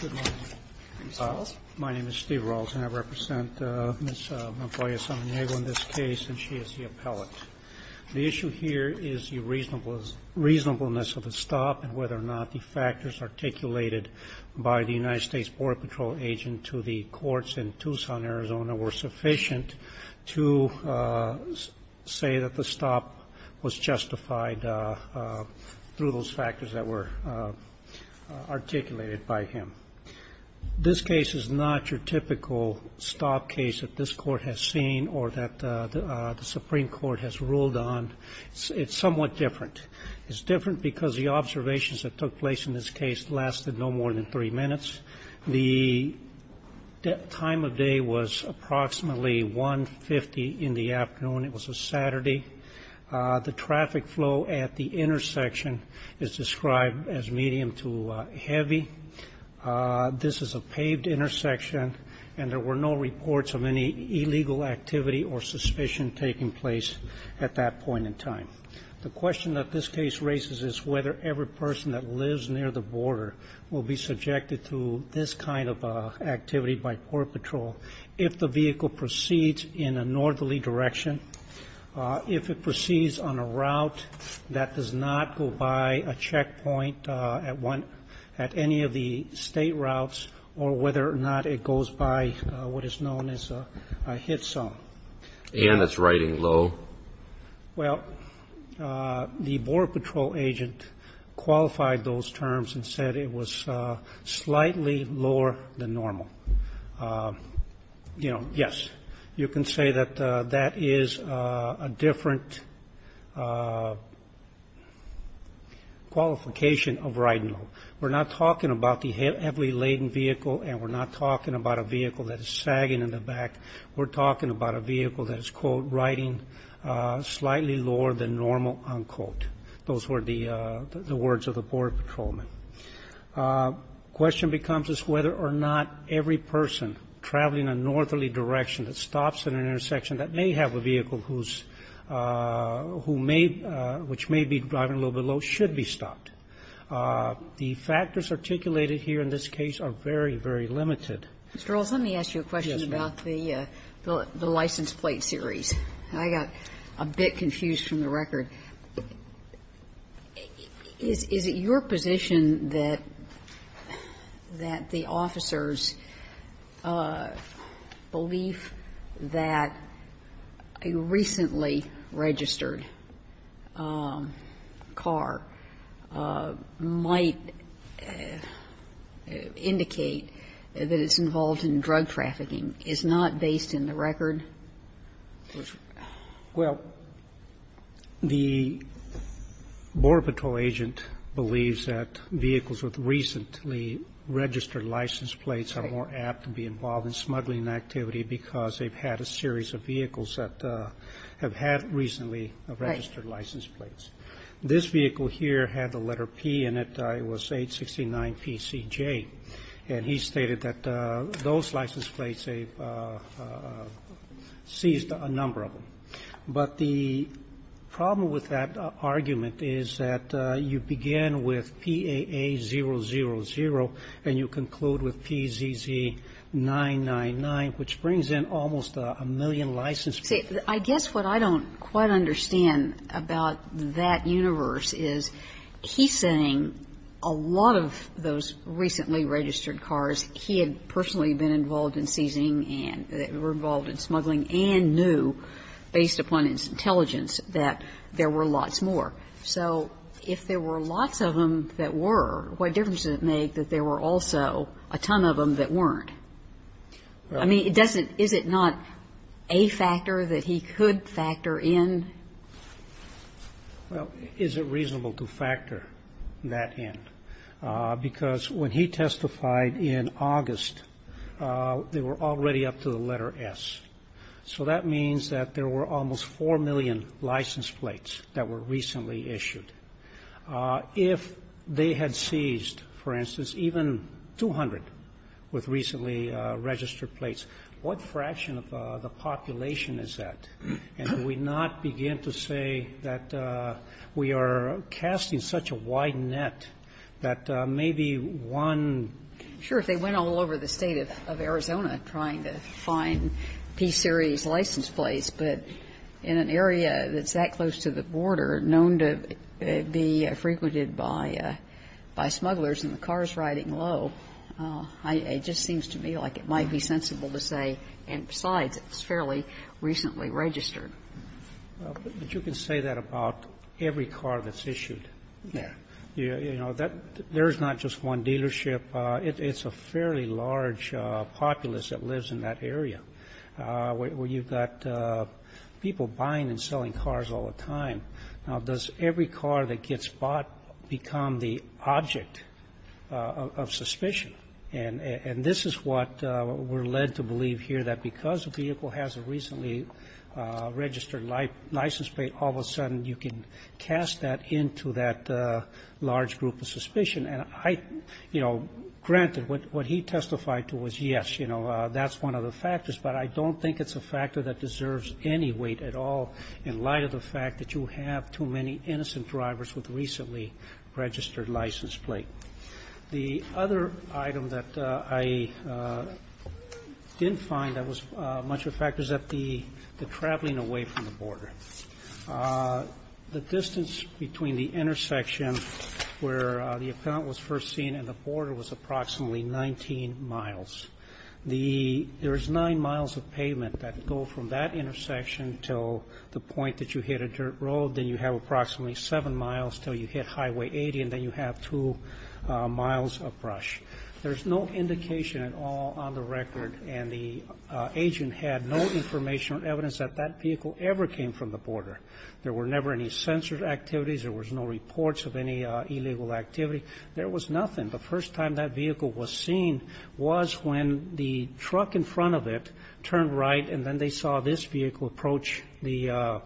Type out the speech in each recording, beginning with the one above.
Good morning. My name is Steve Rawls and I represent Ms. Montoya-Samaniego in this case and she is the appellate. The issue here is the reasonableness of the stop and whether or not the factors articulated by the United States Border Patrol agent to the courts in this case are the factors that were articulated by him. This case is not your typical stop case that this court has seen or that the Supreme Court has ruled on. It's somewhat different. It's different because the observations that took place in this case lasted no more than three minutes. The time of day was approximately 1.50 in the afternoon. It was a Saturday. The traffic flow at the intersection is described as medium to heavy. This is a paved intersection and there were no reports of any illegal activity or suspicion taking place at that point in time. The question that this case raises is whether every person that lives near the border will be subjected to this kind of activity by Port Patrol if the vehicle proceeds in a northerly direction. If it proceeds on a route that does not go by a checkpoint at any of the state routes or whether or not it goes by what is known as a hit zone. And it's riding low? Well, the Border Patrol agent qualified those terms and said it was slightly lower than normal. You know, yes. You can say that that is a different qualification of riding low. We're not talking about the heavily laden vehicle and we're not talking about a vehicle that is sagging in the back. We're talking about a vehicle that is, quote, riding slightly lower than normal, unquote. Those were the words of the Border Patrolman. The question becomes is whether or not every person traveling a northerly direction that stops at an intersection that may have a vehicle who's, who may, which may be driving a little bit low should be stopped. The factors articulated here in this case are very, very limited. Mr. Earls, let me ask you a question about the license plate series. I got a bit confused from the record. Is it your position that the officers' belief that a recently registered car might indicate that it's involved in drug trafficking is not based in the record? Well, the Border Patrol agent believes that vehicles with recently registered license plates are more apt to be involved in smuggling activity because they've had a series of vehicles that have had recently registered license plates. This vehicle here had the letter P in it. It was 869PCJ. And he stated that those license plates, they've seized a number of them. But the problem with that argument is that you begin with PAA000 and you conclude with PZZ999, which brings in almost a million license plates. See, I guess what I don't quite understand about that universe is he's saying a lot of those recently registered cars, he had personally been involved in seizing and were involved in smuggling and knew, based upon his intelligence, that there were lots more. So if there were lots of them that were, what difference does it make that there were also a ton of them that weren't? I mean, it doesn't, is it not a factor that he could factor in? Well, is it reasonable to factor that in? Because when he testified in August, they were already up to the letter S. So that means that there were almost 4 million license plates that were recently issued. If they had seized, for instance, even 200 with recently registered plates, what fraction of the population is that? And do we not begin to say that we are casting such a wide net that maybe one ---- Sure. If they went all over the State of Arizona trying to find P-series license plates, but in an area that's that close to the border, known to be frequented by smugglers and the cars riding low, it just seems to me like it might be sensible to say, and besides, it's fairly recently registered. But you can say that about every car that's issued. Yeah. You know, there's not just one dealership. It's a fairly large populace that lives in that area, where you've got people buying and selling cars all the time. Now, does every car that gets bought become the object of suspicion? And this is what we're led to believe here, that because a vehicle has a recently registered license plate, all of a sudden you can cast that into that large group of suspicion. And I, you know, granted, what he testified to was, yes, you know, that's one of the reasons at all, in light of the fact that you have too many innocent drivers with recently registered license plates. The other item that I didn't find that was much of a factor is that the traveling away from the border. The distance between the intersection where the account was first seen and the border was approximately 19 miles. There's nine miles of pavement that go from that intersection to the point that you hit a dirt road. Then you have approximately seven miles until you hit Highway 80. And then you have two miles of brush. There's no indication at all on the record. And the agent had no information or evidence that that vehicle ever came from the border. There were never any censored activities. There was no reports of any illegal activity. There was nothing. The first time that vehicle was seen was when the truck in front of it turned right and then they saw this vehicle approach the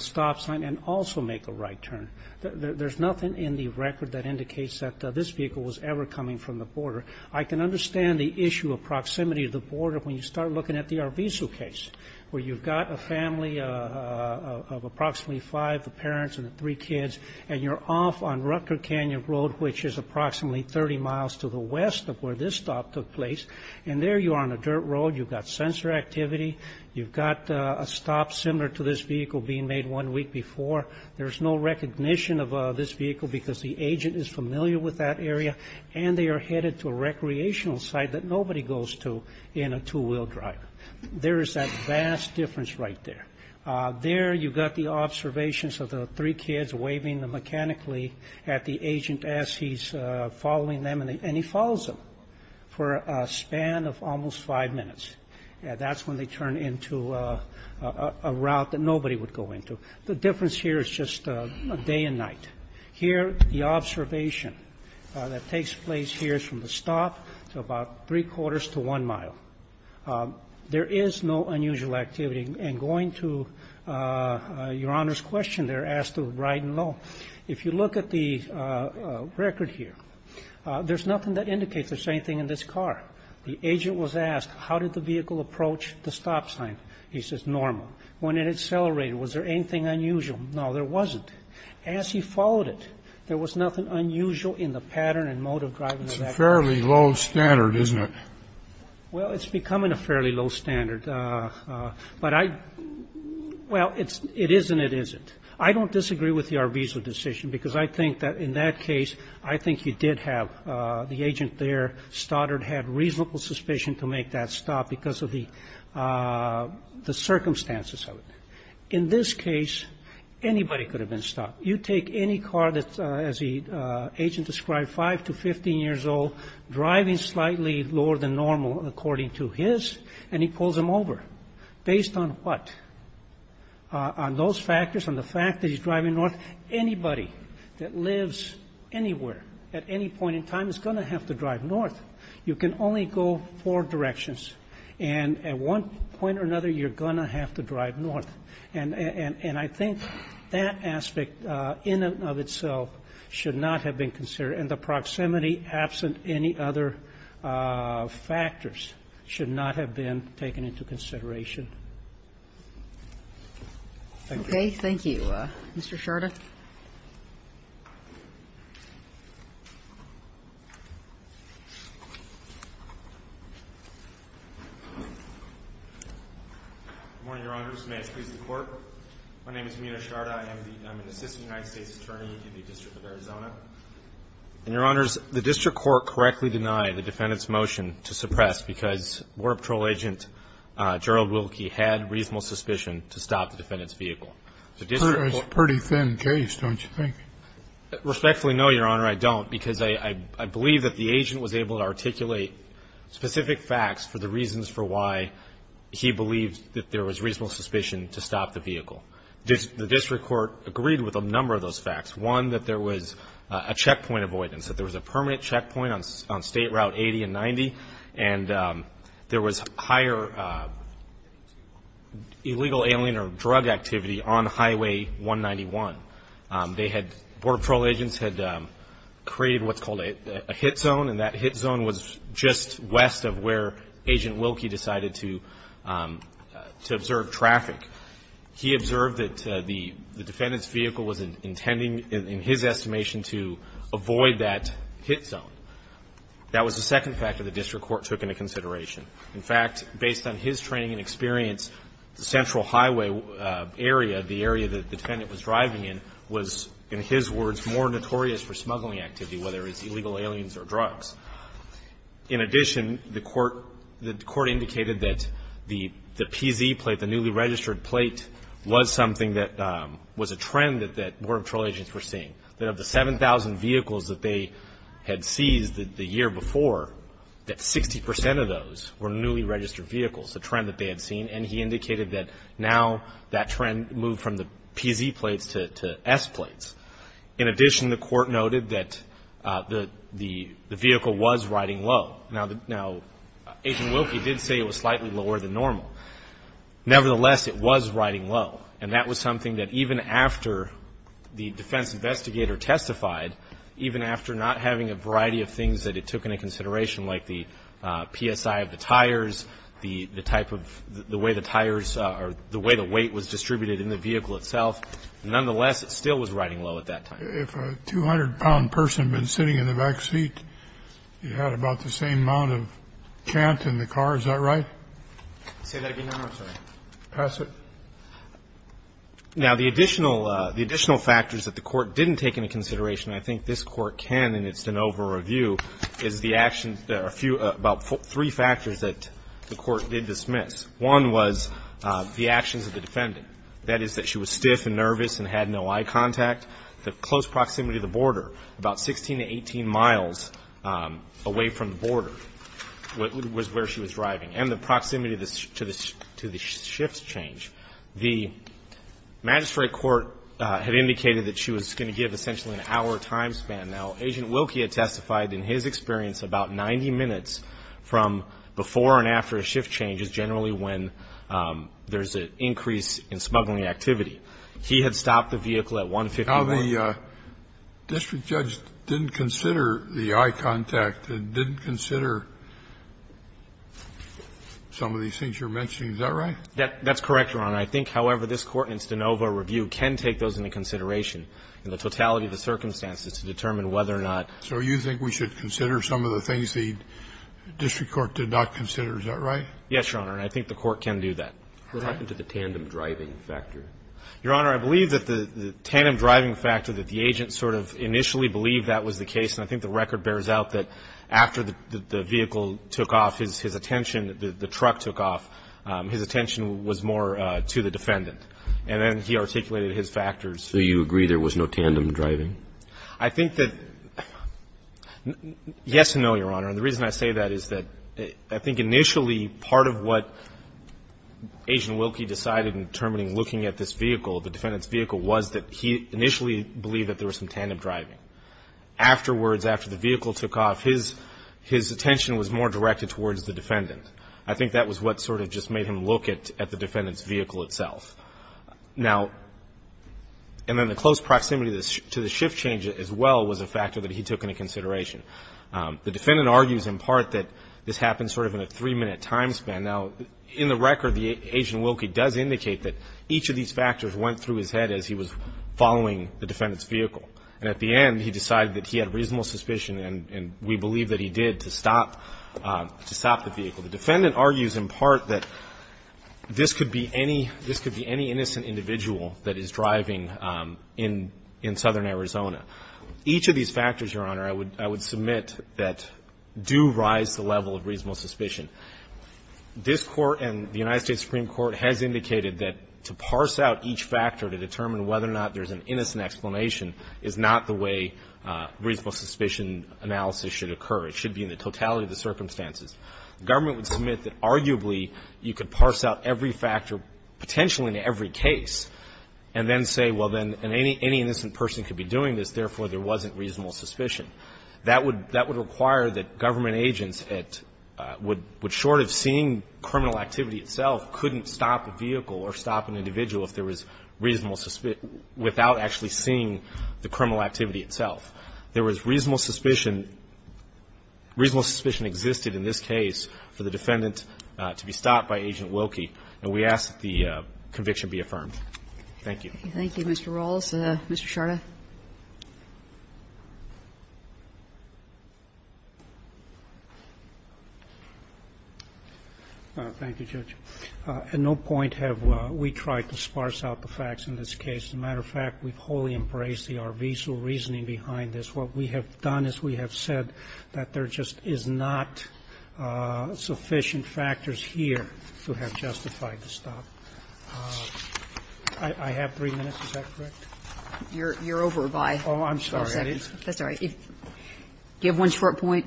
stop sign and also make a right turn. There's nothing in the record that indicates that this vehicle was ever coming from the border. I can understand the issue of proximity to the border when you start looking at the Arvizo case, where you've got a family of approximately five, the parents and the three kids, and you're off on Rutger Canyon Road, which is approximately 30 miles to the west of where this stop took place. And there you are on a dirt road. You've got censored activity. You've got a stop similar to this vehicle being made one week before. There's no recognition of this vehicle because the agent is familiar with that area. And they are headed to a recreational site that nobody goes to in a two-wheel driver. There is that vast difference right there. There you've got the observations of the three kids waving mechanically at the agent as he's following them, and he follows them for a span of almost five minutes. That's when they turn into a route that nobody would go into. The difference here is just day and night. Here, the observation that takes place here is from the stop to about three quarters to one mile. There is no unusual activity. And going to Your Honor's question, they're asked to ride in low. If you look at the record here, there's nothing that indicates the same thing in this car. The agent was asked, how did the vehicle approach the stop sign? He says, normal. When it accelerated, was there anything unusual? No, there wasn't. As he followed it, there was nothing unusual in the pattern and mode of driving that vehicle. It's a fairly low standard, isn't it? Well, it's becoming a fairly low standard. But I, well, it is and it isn't. I don't disagree with the Arvizo decision because I think that in that case, I think you did have the agent there stuttered, had reasonable suspicion to make that stop because of the circumstances of it. In this case, anybody could have been stopped. You take any car that's, as the agent described, five to 15 years old, driving slightly lower than normal according to his, and he pulls him over. Based on what? On those factors, on the fact that he's driving north. Anybody that lives anywhere at any point in time is going to have to drive north. You can only go four directions. And at one point or another, you're going to have to drive north. And I think that aspect in and of itself should not have been considered. And the proximity, absent any other factors, should not have been taken into consideration. Thank you. Okay. Thank you. Mr. Sharda. Good morning, Your Honors. May it please the Court. My name is Meena Sharda. I'm an assistant United States attorney in the District of Arizona. And, Your Honors, the district court correctly denied the defendant's motion to suppress because War Patrol agent Gerald Wilkie had reasonable suspicion to stop the defendant's vehicle. It's a pretty thin case, don't you think? Respectfully, no, Your Honor, I don't. Because I believe that the agent was able to articulate specific facts for the reasons for why he believed that there was reasonable suspicion to stop the vehicle. The district court agreed with a number of those facts. One, that there was a checkpoint avoidance. That there was a permanent checkpoint on State Route 80 and 90. And there was higher illegal alien or drug activity on Highway 191. They had, Border Patrol agents had created what's called a hit zone. And that hit zone was just west of where Agent Wilkie decided to observe traffic. He observed that the defendant's vehicle was intending, in his estimation, to avoid that hit zone. That was the second fact that the district court took into consideration. In fact, based on his training and experience, the central highway area, the area that the defendant was driving in, was, in his words, more notorious for smuggling activity, whether it's illegal aliens or drugs. In addition, the court indicated that the PZ plate, the newly registered plate, was something that was a trend that Border Patrol agents were seeing. That of the 7,000 vehicles that they had seized the year before, that 60 percent of those were newly registered vehicles, a trend that they had seen. And he indicated that now that trend moved from the PZ plates to S plates. In addition, the court noted that the vehicle was riding low. Now, Agent Wilkie did say it was slightly lower than normal. Nevertheless, it was riding low. And that was something that even after the defense investigator testified, even after not having a variety of things that it took into consideration, like the PSI of the tires, the type of, the way the tires, or the way the weight was distributed in the vehicle itself, nonetheless, it still was riding low at that time. If a 200-pound person had been sitting in the back seat, you had about the same amount of chant in the car. Is that right? Say that again, Your Honor. I'm sorry. Pass it. Now, the additional, the additional factors that the court didn't take into consideration, I think this Court can, and it's an over-review, is the actions, a few, about three factors that the court did dismiss. One was the actions of the defendant. That is that she was stiff and nervous and had no eye contact. The close proximity to the border, about 16 to 18 miles away from the border, was where she was driving. And the proximity to the shift change. The magistrate court had indicated that she was going to give essentially an hour time span. Now, Agent Wilkie had testified in his experience about 90 minutes from before and after a shift change is generally when there's an increase in smuggling activity. He had stopped the vehicle at 150 miles. Now, the district judge didn't consider the eye contact, didn't consider some of these things you're mentioning. Is that right? That's correct, Your Honor. I think, however, this Court in its de novo review can take those into consideration in the totality of the circumstances to determine whether or not. So you think we should consider some of the things the district court did not consider. Is that right? Yes, Your Honor. And I think the court can do that. What happened to the tandem driving factor? Your Honor, I believe that the tandem driving factor, that the agent sort of initially believed that was the case. And I think the record bears out that after the vehicle took off, his attention, the truck took off, his attention was more to the defendant. And then he articulated his factors. So you agree there was no tandem driving? I think that yes and no, Your Honor. And the reason I say that is that I think initially part of what Agent Wilkie decided in determining looking at this vehicle, the defendant's vehicle, was that he initially believed that there was some tandem driving. Afterwards, after the vehicle took off, his attention was more directed towards the defendant. I think that was what sort of just made him look at the defendant's vehicle itself. Now, and then the close proximity to the shift change as well was a factor that he took into consideration. The defendant argues in part that this happened sort of in a three-minute time span. Now, in the record, Agent Wilkie does indicate that each of these factors went through his head as he was following the defendant's vehicle. And at the end, he decided that he had reasonable suspicion, and we believe that he did, to stop the vehicle. The defendant argues in part that this could be any innocent individual that is driving in southern Arizona. Each of these factors, Your Honor, I would submit that do rise to the level of reasonable suspicion. This Court and the United States Supreme Court has indicated that to parse out each factor to determine whether or not there's an innocent explanation is not the way reasonable suspicion analysis should occur. It should be in the totality of the circumstances. The government would submit that arguably you could parse out every factor, potentially in every case, and then say, well, then, any innocent person could be doing this. Therefore, there wasn't reasonable suspicion. That would require that government agents, short of seeing criminal activity itself, couldn't stop a vehicle or stop an individual if there was reasonable suspicion without actually seeing the criminal activity itself. There was reasonable suspicion. Reasonable suspicion existed in this case for the defendant to be stopped by Agent Wilkie, and we ask that the conviction be affirmed. Thank you. Thank you, Mr. Rawls. Mr. Sharda. Thank you, Judge. At no point have we tried to sparse out the facts in this case. As a matter of fact, we've wholly embraced the Arvizo reasoning behind this. What we have done is we have said that there just is not sufficient factors here to have justified the stop. I have three minutes. Is that correct? You're over by 12 seconds. Oh, I'm sorry. That's all right. Do you have one short point?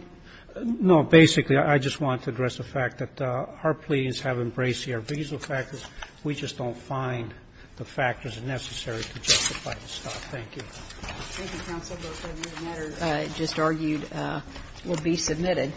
No. Basically, I just want to address the fact that our pleadings have embraced the Arvizo factors. We just don't find the factors necessary to justify the stop. Thank you. Thank you, counsel. The matter just argued will be submitted.